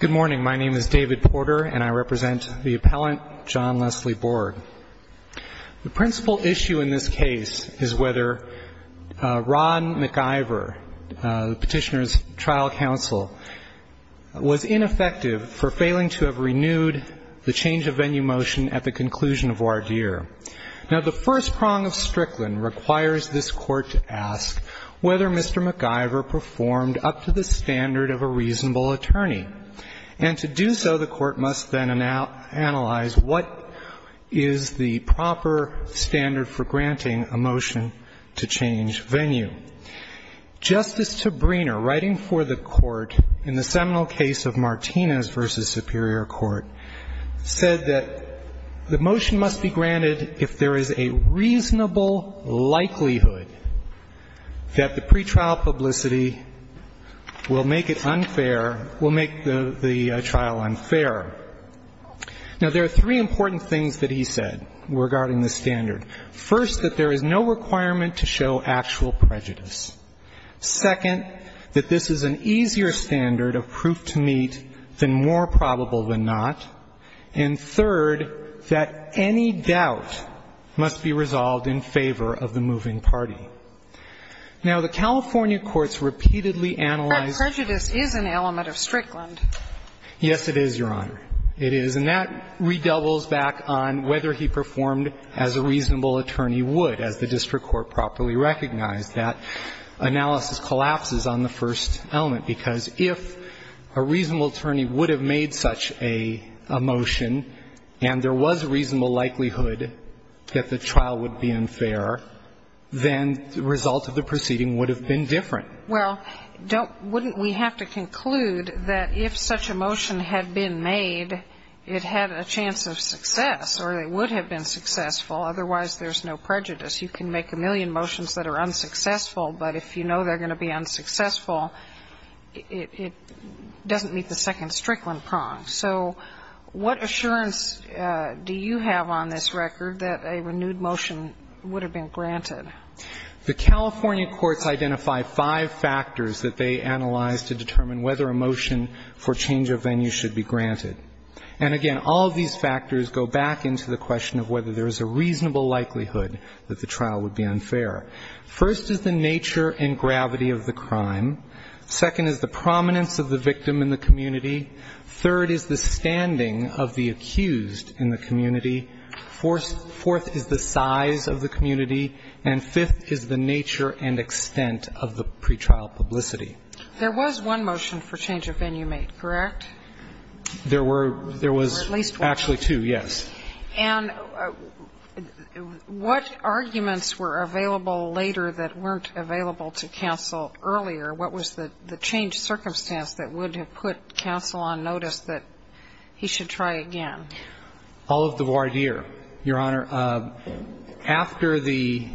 Good morning. My name is David Porter, and I represent the Appellant John Leslie Borg. The principal issue in this case is whether Ron McIver, the petitioner's trial counsel, was ineffective for failing to have renewed the change of venue motion at the conclusion of voir dire. Now, the first prong of Strickland requires this Court to ask whether Mr. McIver performed up to the standard of a reasonable attorney. And to do so, the Court must then analyze what is the proper standard for granting a motion to change venue. Justice Tabriner, writing for the Court in the seminal case of Martinez v. Superior Court, said that the motion must be granted if there is a reasonable likelihood that the pretrial publicity will make it unfair, will make the trial unfair. Now, there are three important things that he said regarding the standard. First, that there is no requirement to show actual prejudice. Second, that this is an easier standard of proof to meet than more probable than not. And third, that any doubt must be resolved in favor of the moving party. Now, the California courts repeatedly analyzed the case. But prejudice is an element of Strickland. Yes, it is, Your Honor. It is. And that redoubles back on whether he performed as a reasonable attorney would, as the district court properly recognized. That analysis collapses on the first element, because if a reasonable attorney would have made such a motion and there was a reasonable likelihood that the trial would be unfair, then the result of the proceeding would have been different. Well, don't we have to conclude that if such a motion had been made, it had a chance of success or it would have been successful, otherwise there's no prejudice. You can make a million motions that are unsuccessful, but if you know they're going to be unsuccessful, it doesn't meet the second Strickland prong. So what assurance do you have on this record that a renewed motion would have been granted? The California courts identify five factors that they analyze to determine whether a motion for change of venue should be granted. And again, all of these factors go back into the question of whether there is a reasonable likelihood that the trial would be unfair. First is the nature and gravity of the crime. Second is the prominence of the victim in the community. Third is the standing of the accused in the community. Fourth is the size of the community. And fifth is the nature and extent of the pretrial publicity. There was one motion for change of venue made, correct? There were at least two, yes. And what arguments were available later that weren't available to counsel earlier? What was the changed circumstance that would have put counsel on notice that he should try again? All of the voir dire, Your Honor. After the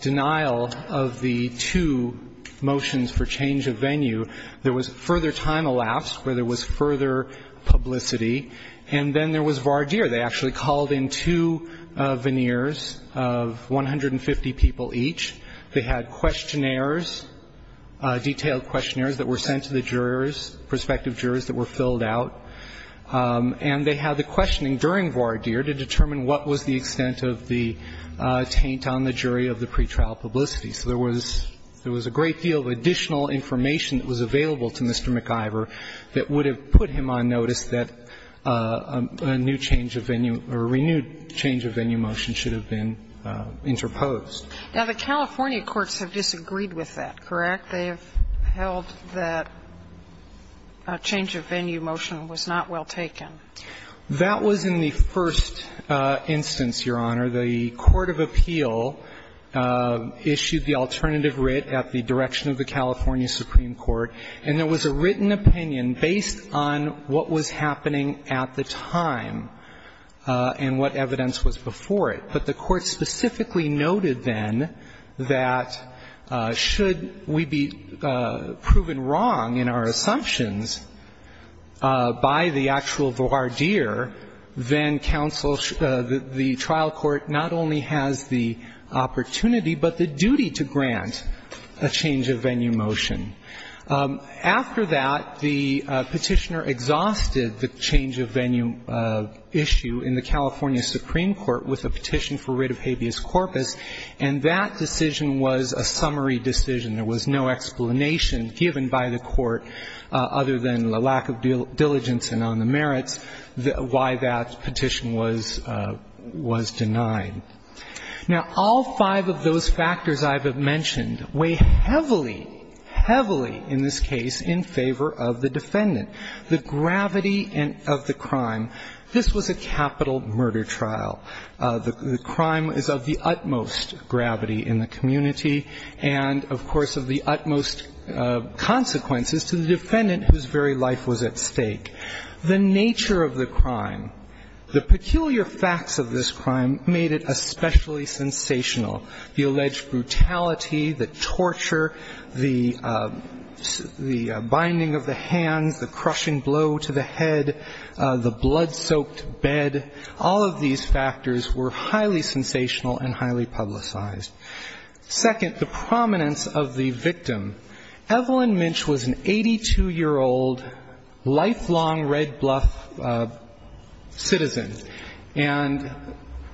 denial of the two motions for change of venue, there was further time elapsed where there was further publicity. And then there was voir dire. They actually called in two veneers of 150 people each. They had questionnaires, detailed questionnaires that were sent to the jurors, prospective jurors that were filled out. And they had the questioning during voir dire to determine what was the extent of the taint on the jury of the pretrial publicity. So there was a great deal of additional information that was available to Mr. McIvor that would have put him on notice that a new change of venue or renewed change of venue motion should have been interposed. Now, the California courts have disagreed with that, correct? They have held that a change of venue motion was not well taken. That was in the first instance, Your Honor. The court of appeal issued the alternative writ at the direction of the California Supreme Court. And there was a written opinion based on what was happening at the time and what evidence was before it. But the court specifically noted then that should we be proven wrong in our assumptions by the actual voir dire, then counsel, the trial court not only has the opportunity but the duty to grant a change of venue motion. After that, the Petitioner exhausted the change of venue issue in the California Supreme Court with a petition for writ of habeas corpus. And that decision was a summary decision. There was no explanation given by the court, other than the lack of diligence and on the merits, why that petition was denied. Now, all five of those factors I have mentioned weigh heavily, heavily in this case in favor of the defendant. The gravity of the crime, this was a capital murder trial. The crime is of the utmost gravity in the community and, of course, of the utmost consequences to the defendant whose very life was at stake. The nature of the crime, the peculiar facts of this crime made it especially sensational. The alleged brutality, the torture, the binding of the hands, the crushing blow to the head, the blood-soaked bed, all of these factors were highly sensational and highly publicized. Second, the prominence of the victim. Evelyn Minch was an 82-year-old, lifelong Red Bluff citizen. And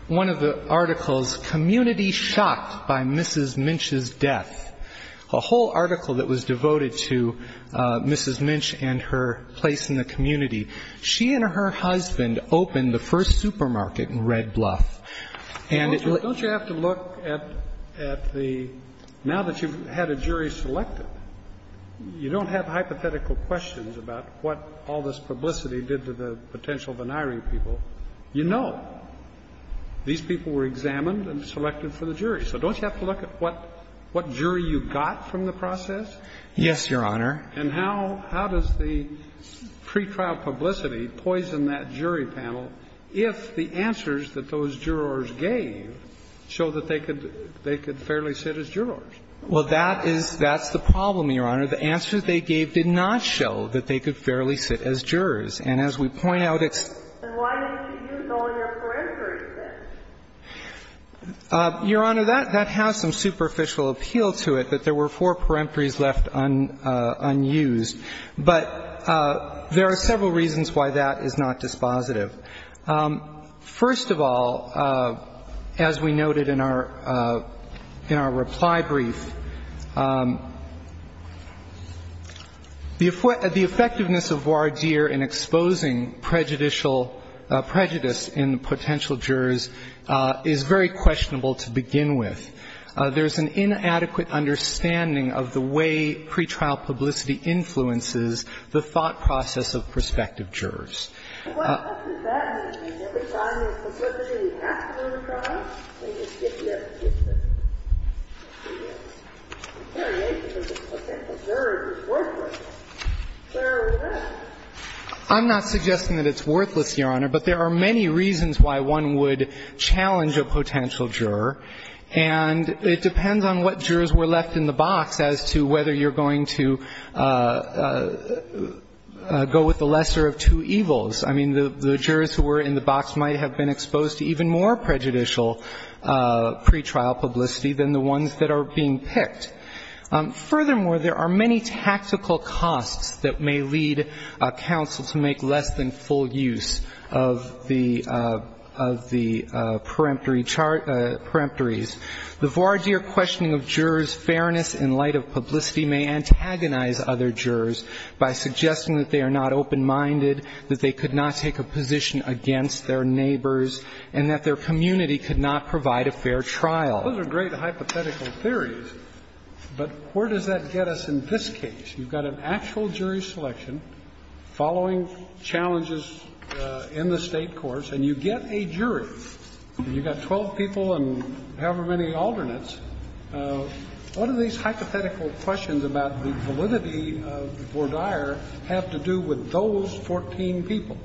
one of the articles, Community Shocked by Mrs. Minch's Death, a whole article that was devoted to Mrs. Minch and her place in the community, she and her husband opened the first supermarket in Red Bluff. And it really- Don't you have to look at the – now that you've had a jury selected, you don't have hypothetical questions about what all this publicity did to the potential veniring people. You know these people were examined and selected for the jury. So don't you have to look at what jury you got from the process? Yes, Your Honor. And how does the pretrial publicity poison that jury panel if the answers that those jurors gave show that they could fairly sit as jurors? Well, that is – that's the problem, Your Honor. The answers they gave did not show that they could fairly sit as jurors. And as we point out, it's- Then why didn't you use all of your peremptories then? Your Honor, that has some superficial appeal to it, that there were four peremptories left unused. But there are several reasons why that is not dispositive. First of all, as we noted in our – in our reply brief, the effectiveness of voir dire in exposing prejudicial – prejudice in potential jurors is very questionable to begin with. There's an inadequate understanding of the way pretrial publicity influences the thought process of prospective jurors. Well, what does that mean? Every time there's publicity after the trial, they just get rid of it. There it is. The variation of the potential jurors is worthless. Where is that? I'm not suggesting that it's worthless, Your Honor, but there are many reasons why one would challenge a potential juror, and it depends on what jurors were left in the box as to whether you're going to go with the lesser of two evils. I mean, the jurors who were in the box might have been exposed to even more prejudicial pretrial publicity than the ones that are being picked. Furthermore, there are many tactical costs that may lead a counsel to make less than full use of the – of the peremptory chart – peremptories. The voir dire questioning of jurors' fairness in light of publicity may antagonize other jurors by suggesting that they are not open-minded, that they could not take a position against their neighbors, and that their community could not provide a fair trial. Those are great hypothetical theories, but where does that get us in this case? You've got an actual jury selection following challenges in the State courts, and you get a jury, and you've got 12 people and however many alternates. What do these hypothetical questions about the validity of the voir dire have to do with those 14 people?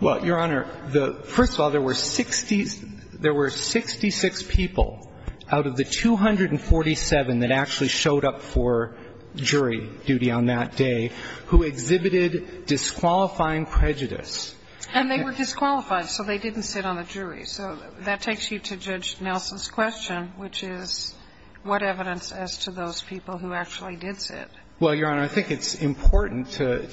Well, Your Honor, the – first of all, there were 60 – there were 66 people out of the 247 that actually showed up for jury duty on that day who exhibited disqualifying prejudice. And they were disqualified, so they didn't sit on the jury. So that takes you to Judge Nelson's question, which is what evidence as to those people who actually did sit? Well, Your Honor, I think it's important to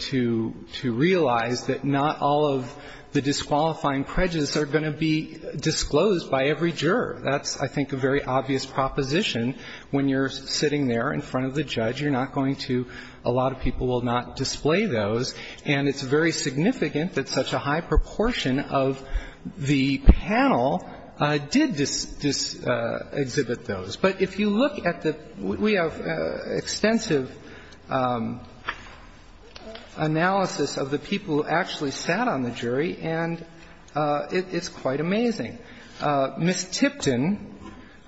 – to realize that not all of the disqualifying prejudice are going to be disclosed by every juror. That's, I think, a very obvious proposition. When you're sitting there in front of the judge, you're not going to – a lot of people will not display those. And it's very significant that such a high proportion of the panel did exhibit those. But if you look at the – we have extensive analysis of the people who actually sat on the jury, and it's quite amazing. Ms. Tipton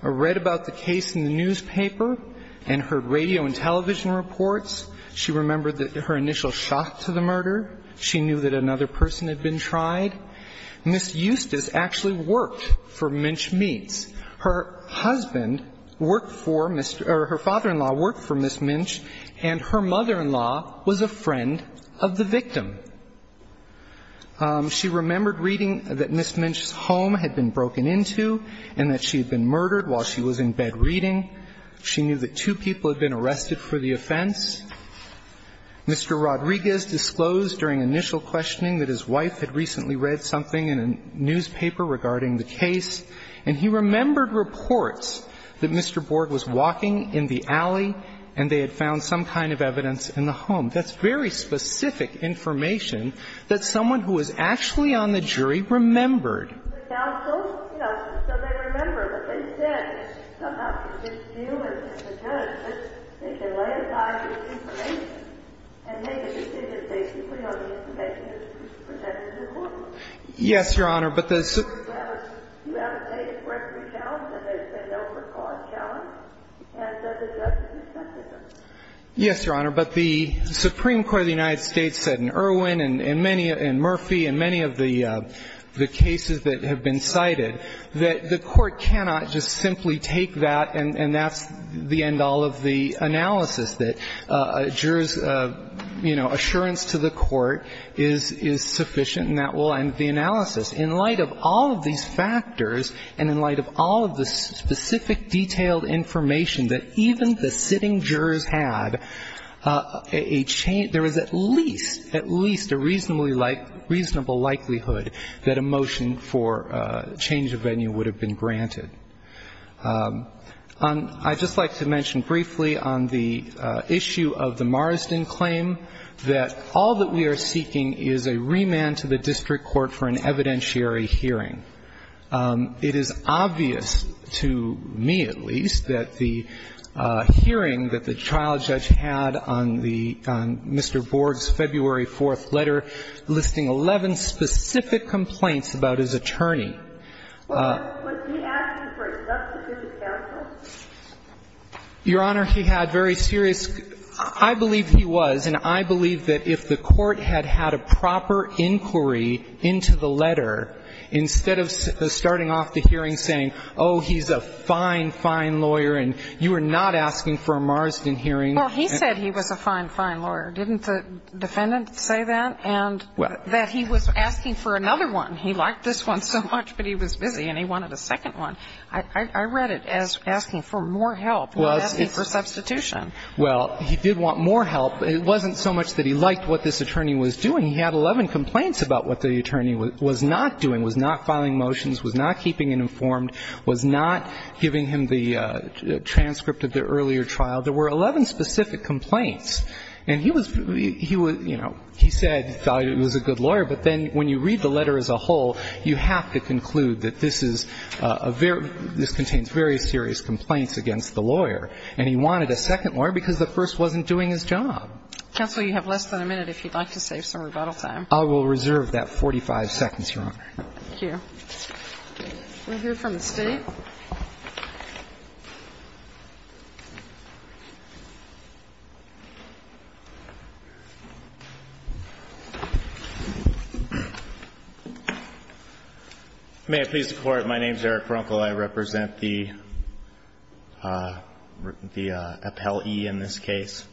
read about the case in the newspaper and heard radio and television reports. She remembered that her initial shot to the murder. She knew that another person had been tried. Ms. Eustace actually worked for Minch Meats. Her husband worked for – or her father-in-law worked for Ms. Minch, and her mother-in-law was a friend of the victim. She remembered reading that Ms. Minch's home had been broken into and that she had been murdered while she was in bed reading. She knew that two people had been arrested for the offense. Mr. Rodriguez disclosed during initial questioning that his wife had recently read something in a newspaper regarding the case, and he remembered reports that Mr. Borg was walking in the alley and they had found some kind of evidence in the home. That's very specific information that someone who was actually on the jury remembered. The counsel, you know, so they remember what they said. Somehow, you just deal with it as a judge, but they can lay aside this information and make a decision based simply on the information that's presented in court. Yes, Your Honor, but the – You have a state of corrective challenge, and they say no for cause challenge, and so the judge has accepted them. Yes, Your Honor, but the Supreme Court of the United States said in Erwin and in many – that have been cited that the court cannot just simply take that and that's the end all of the analysis, that a juror's, you know, assurance to the court is sufficient and that will end the analysis. In light of all of these factors and in light of all of the specific detailed information that even the sitting jurors had, a – there is at least, at least a reasonably like – reasonable likelihood that a motion for change of venue would have been granted. On – I'd just like to mention briefly on the issue of the Marsden claim that all that we are seeking is a remand to the district court for an evidentiary hearing. It is obvious to me, at least, that the hearing that the trial judge had on the – on the Marsden hearing, the hearing that the judge had on the Marsden hearing, was a very serious case, and I believe that the court had a proper inquiry into the letter, instead of starting off the hearing saying, oh, he's a fine, fine lawyer and you are not asking for a Marsden hearing. Well, he said he was a fine, fine lawyer. Didn't the defendant say that? And that he was asking for another one. He liked this one so much, but he was busy and he wanted a second one. I read it as asking for more help, not asking for substitution. Well, he did want more help. It wasn't so much that he liked what this attorney was doing. He had 11 complaints about what the attorney was not doing, was not filing motions, was not keeping him informed, was not giving him the transcript of the earlier trial. There were 11 specific complaints. And he was – he was, you know, he said he thought he was a good lawyer, but then when you read the letter as a whole, you have to conclude that this is a very – this contains very serious complaints against the lawyer. And he wanted a second lawyer because the first wasn't doing his job. Counsel, you have less than a minute if you'd like to save some rebuttal time. I will reserve that 45 seconds, Your Honor. Thank you. We'll hear from the State. Thank you. May it please the Court, my name is Eric Brunkle. I represent the – the appellee in this case.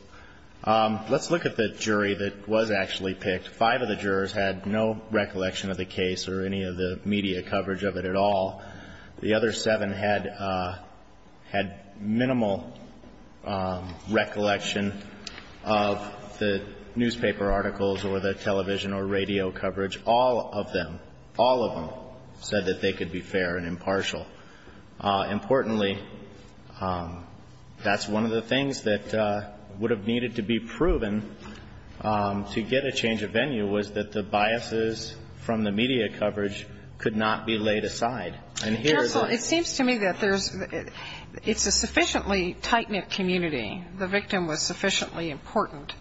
Let's look at the jury that was actually picked. Five of the jurors had no recollection of the case or any of the media coverage of it at all. The other seven had – had minimal recollection of the newspaper articles or the television or radio coverage. All of them, all of them said that they could be fair and impartial. Importantly, that's one of the things that would have needed to be proven to get a change of venue, was that the biases from the media coverage could not be laid aside. Counsel, it seems to me that there's – it's a sufficiently tight-knit community. The victim was sufficiently important.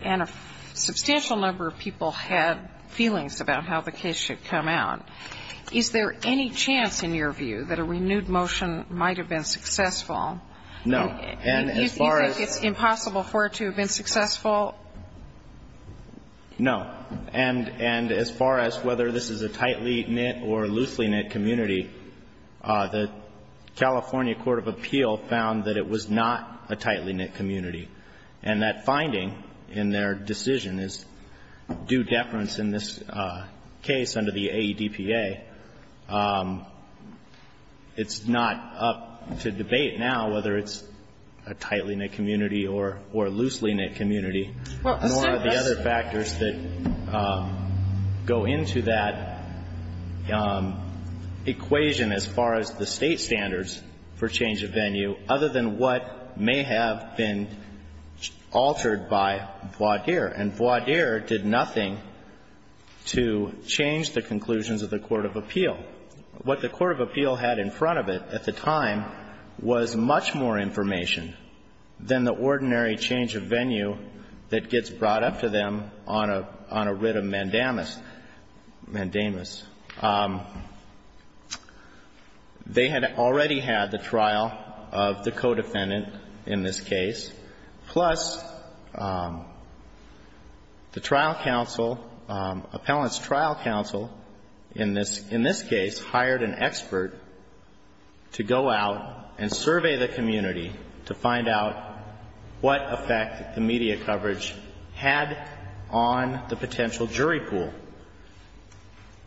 And a substantial number of people had feelings about how the case should come out. Is there any chance, in your view, that a renewed motion might have been successful? No. And as far as – You think it's impossible for it to have been successful? No. And as far as whether this is a tightly-knit or loosely-knit community, the California Court of Appeal found that it was not a tightly-knit community. And that finding in their decision is due deference in this case under the AEDPA. It's not up to debate now whether it's a tightly-knit community or loosely-knit community. And what are the other factors that go into that equation as far as the State standards for change of venue other than what may have been altered by voir dire? And voir dire did nothing to change the conclusions of the Court of Appeal. What the Court of Appeal had in front of it at the time was much more information than the ordinary change of venue that gets brought up to them on a writ of mandamus. They had already had the trial of the co-defendant in this case, plus the trial counsel, appellant's trial counsel, in this case hired an expert to go out and survey the community to find out what effect the media coverage had on the potential jury pool.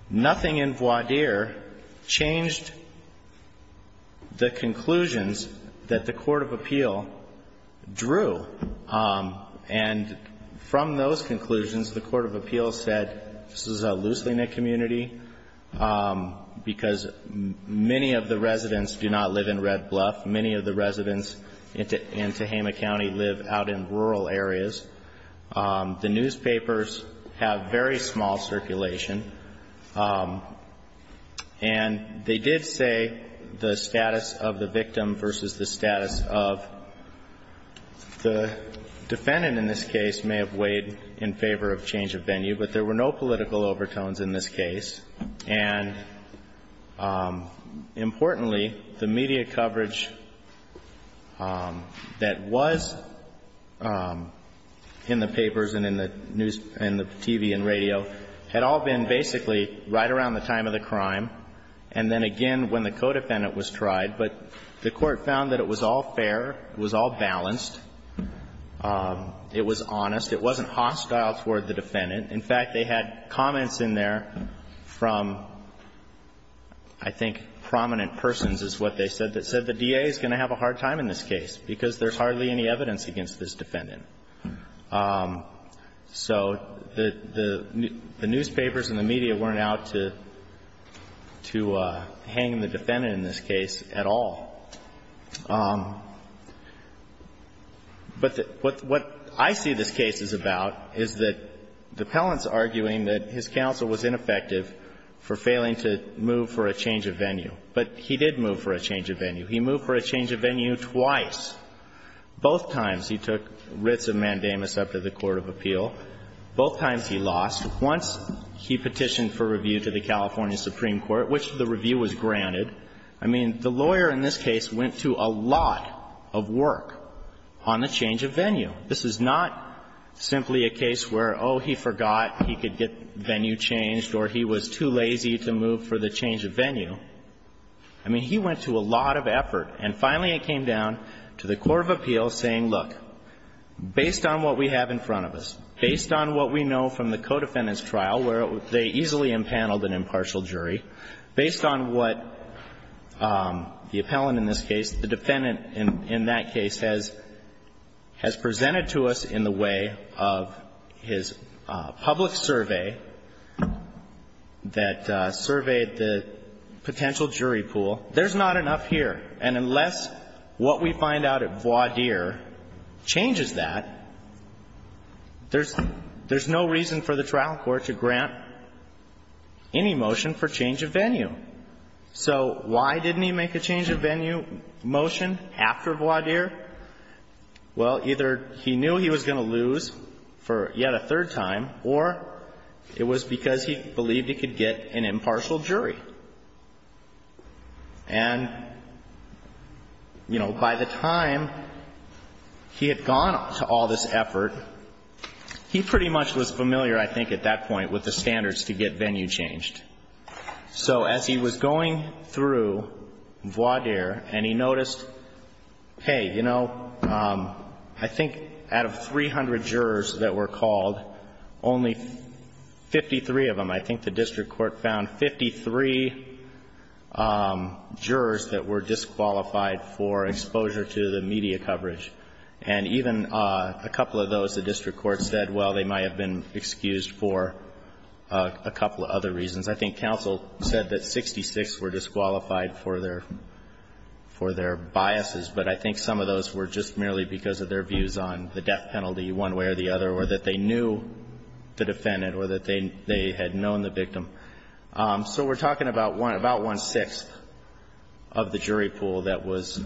Nothing in voir dire changed the conclusions that the Court of Appeal drew. And from those conclusions, the Court of Appeal said, this is a loosely-knit community because many of the residents do not live in Red Bluff. Many of the residents in Tehama County live out in rural areas. The newspapers have very small circulation. And they did say the status of the victim versus the status of the defendant in this case may have weighed in favor of change of venue, but there were no political overtones in this case. And importantly, the media coverage that was in the papers and in the news, in the TV and radio, had all been basically right around the time of the crime and then again when the co-defendant was tried. But the Court found that it was all fair, it was all balanced, it was honest, it wasn't hostile toward the defendant. In fact, they had comments in there from, I think, prominent persons is what they said, that said the DA is going to have a hard time in this case because there's hardly any evidence against this defendant. So the newspapers and the media weren't out to hang the defendant in this case at all. But what I see this case is about is that the appellant's arguing that his counsel was ineffective for failing to move for a change of venue. But he did move for a change of venue. He moved for a change of venue twice. Both times he took writs of mandamus up to the court of appeal. Both times he lost. Once he petitioned for review to the California Supreme Court, which the review was granted. I mean, the lawyer in this case went to a lot of work on the change of venue. This is not simply a case where, oh, he forgot he could get venue changed or he was too lazy to move for the change of venue. I mean, he went to a lot of effort. And finally it came down to the court of appeal saying, look, based on what we have in front of us, based on what we know from the co-defendant's trial where they easily impaneled an impartial jury, based on what the appellant in this case, the defendant in that case has presented to us in the way of his public survey that surveyed the potential jury pool, there's not enough here. And unless what we find out at voir dire changes that, there's no reason for the trial court to grant any motion for change of venue. So why didn't he make a change of venue motion after voir dire? Well, either he knew he was going to lose for yet a third time, or it was because he believed he could get an impartial jury. And, you know, by the time he had gone to all this effort, he pretty much was familiar, I think, at that point with the standards to get venue changed. So as he was going through voir dire, and he noticed, hey, you know, I think out of 300 jurors that were called, only 53 of them, I think the district court found, 53 jurors that were disqualified for exposure to the media coverage. And even a couple of those, the district court said, well, they might have been excused for a couple of other reasons. I think counsel said that 66 were disqualified for their biases. But I think some of those were just merely because of their views on the death penalty one way or the other, or that they knew the defendant or that they had known the victim. So we're talking about one-sixth of the jury pool that was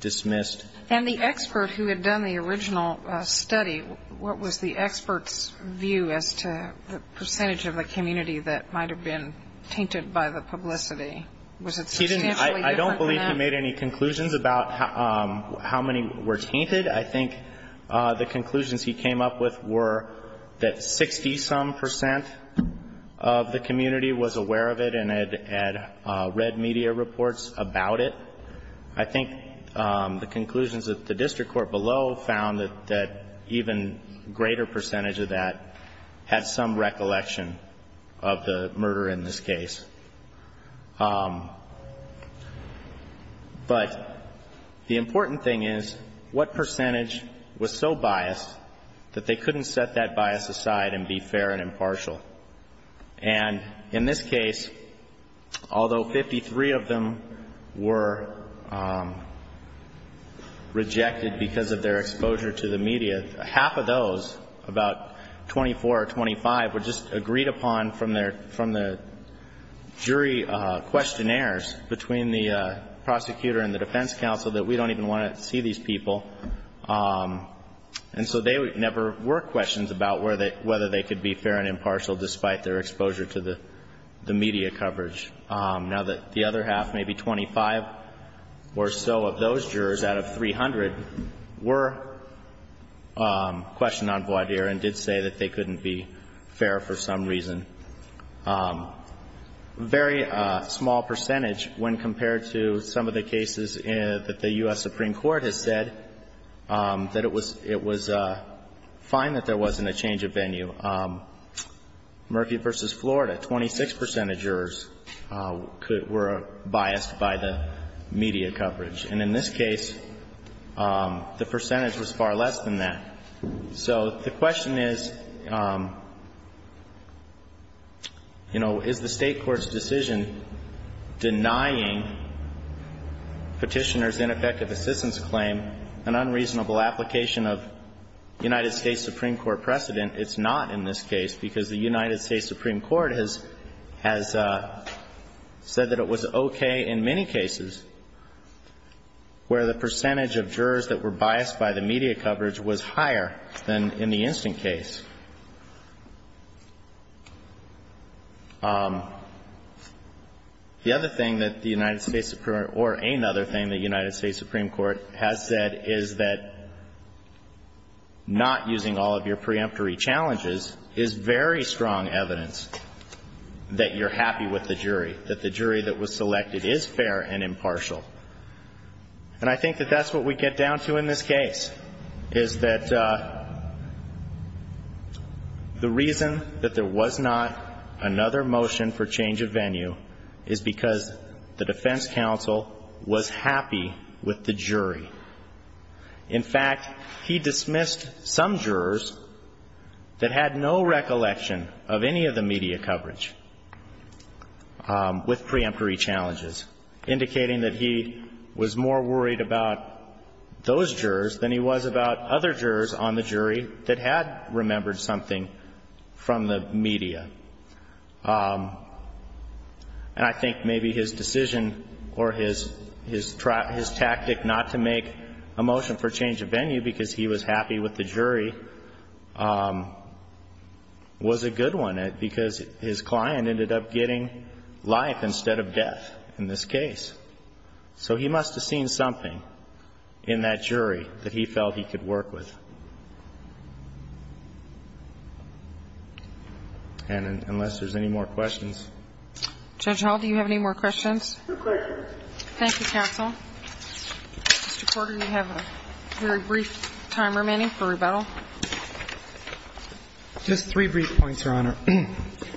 dismissed. And the expert who had done the original study, what was the expert's view as to the percentage of the community that might have been tainted by the publicity? Was it substantially different than that? I don't believe he made any conclusions about how many were tainted. I think the conclusions he came up with were that 60-some percent of the community was aware of it and had read media reports about it. I think the conclusions that the district court below found that even a greater percentage of that had some recollection of the murder in this case. But the important thing is, what percentage was so biased that they couldn't set that bias aside and be fair and impartial? And in this case, although 53 of them were rejected because of their exposure to the media, half of those, about 24 or 25, were just agreed upon from the community jury questionnaires between the prosecutor and the defense counsel that we don't even want to see these people. And so there never were questions about whether they could be fair and impartial despite their exposure to the media coverage. Now, the other half, maybe 25 or so of those jurors out of 300, were questioned on voir dire and did say that they couldn't be fair for some reason. Very small percentage when compared to some of the cases that the U.S. Supreme Court has said that it was fine that there wasn't a change of venue. Murphy v. Florida, 26 percent of jurors were biased by the media coverage. And in this case, the percentage was far less than that. So the question is, you know, is the State Court's decision denying Petitioner's ineffective assistance claim an unreasonable application of United States Supreme Court precedent? It's not in this case, because the United States Supreme Court has said that it was okay in many cases where the percentage of jurors that were biased by the media coverage was higher than in the instant case. The other thing that the United States Supreme Court or any other thing the United States Supreme Court has said is that not using all of your preemptory challenges is very strong evidence that you're happy with the jury, that the jury that was selected is fair and impartial. And I think that that's what we get down to in this case, is that the reason that there was not another motion for change of venue is because the defense counsel was happy with the jury. In fact, he dismissed some jurors that had no recollection of any of the media coverage with preemptory challenges, indicating that he was more worried about those jurors than he was about other jurors on the jury that had remembered something from the media. And I think maybe his decision or his tactic not to make a motion for change of venue because he was happy with the jury was a good one, because his client was happy with the jury, but his client ended up getting life instead of death in this case. So he must have seen something in that jury that he felt he could work with. And unless there's any more questions. Judge Hall, do you have any more questions? No questions. Thank you, counsel. Mr. Porter, you have a very brief time remaining for rebuttal. Just three brief points, Your Honor.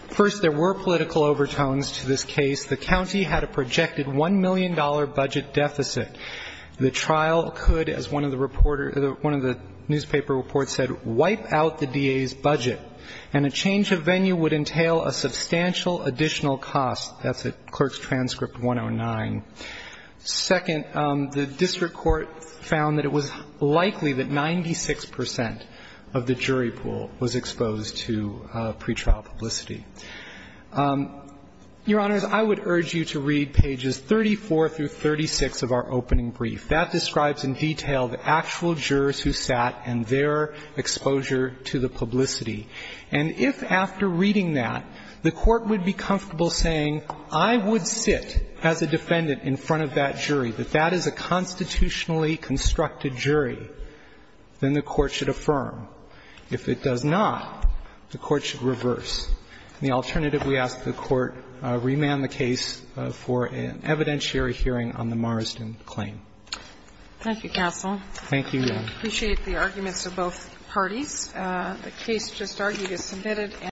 First, there were political overtones to this case. The county had a projected $1 million budget deficit. The trial could, as one of the reporter or one of the newspaper reports said, wipe out the DA's budget, and a change of venue would entail a substantial additional cost. That's at Clerk's discretion. Second, the district court found that it was likely that 96 percent of the jury pool was exposed to pretrial publicity. Your Honors, I would urge you to read pages 34 through 36 of our opening brief. That describes in detail the actual jurors who sat and their exposure to the publicity. And if, after reading that, the Court would be comfortable saying, I would sit as a defendant in front of that jury, that that is a constitutionally constructed jury, then the Court should affirm. If it does not, the Court should reverse. And the alternative, we ask that the Court remand the case for an evidentiary hearing on the Marsden claim. Thank you, counsel. Thank you, Your Honor. I appreciate the arguments of both parties. The case just argued is submitted.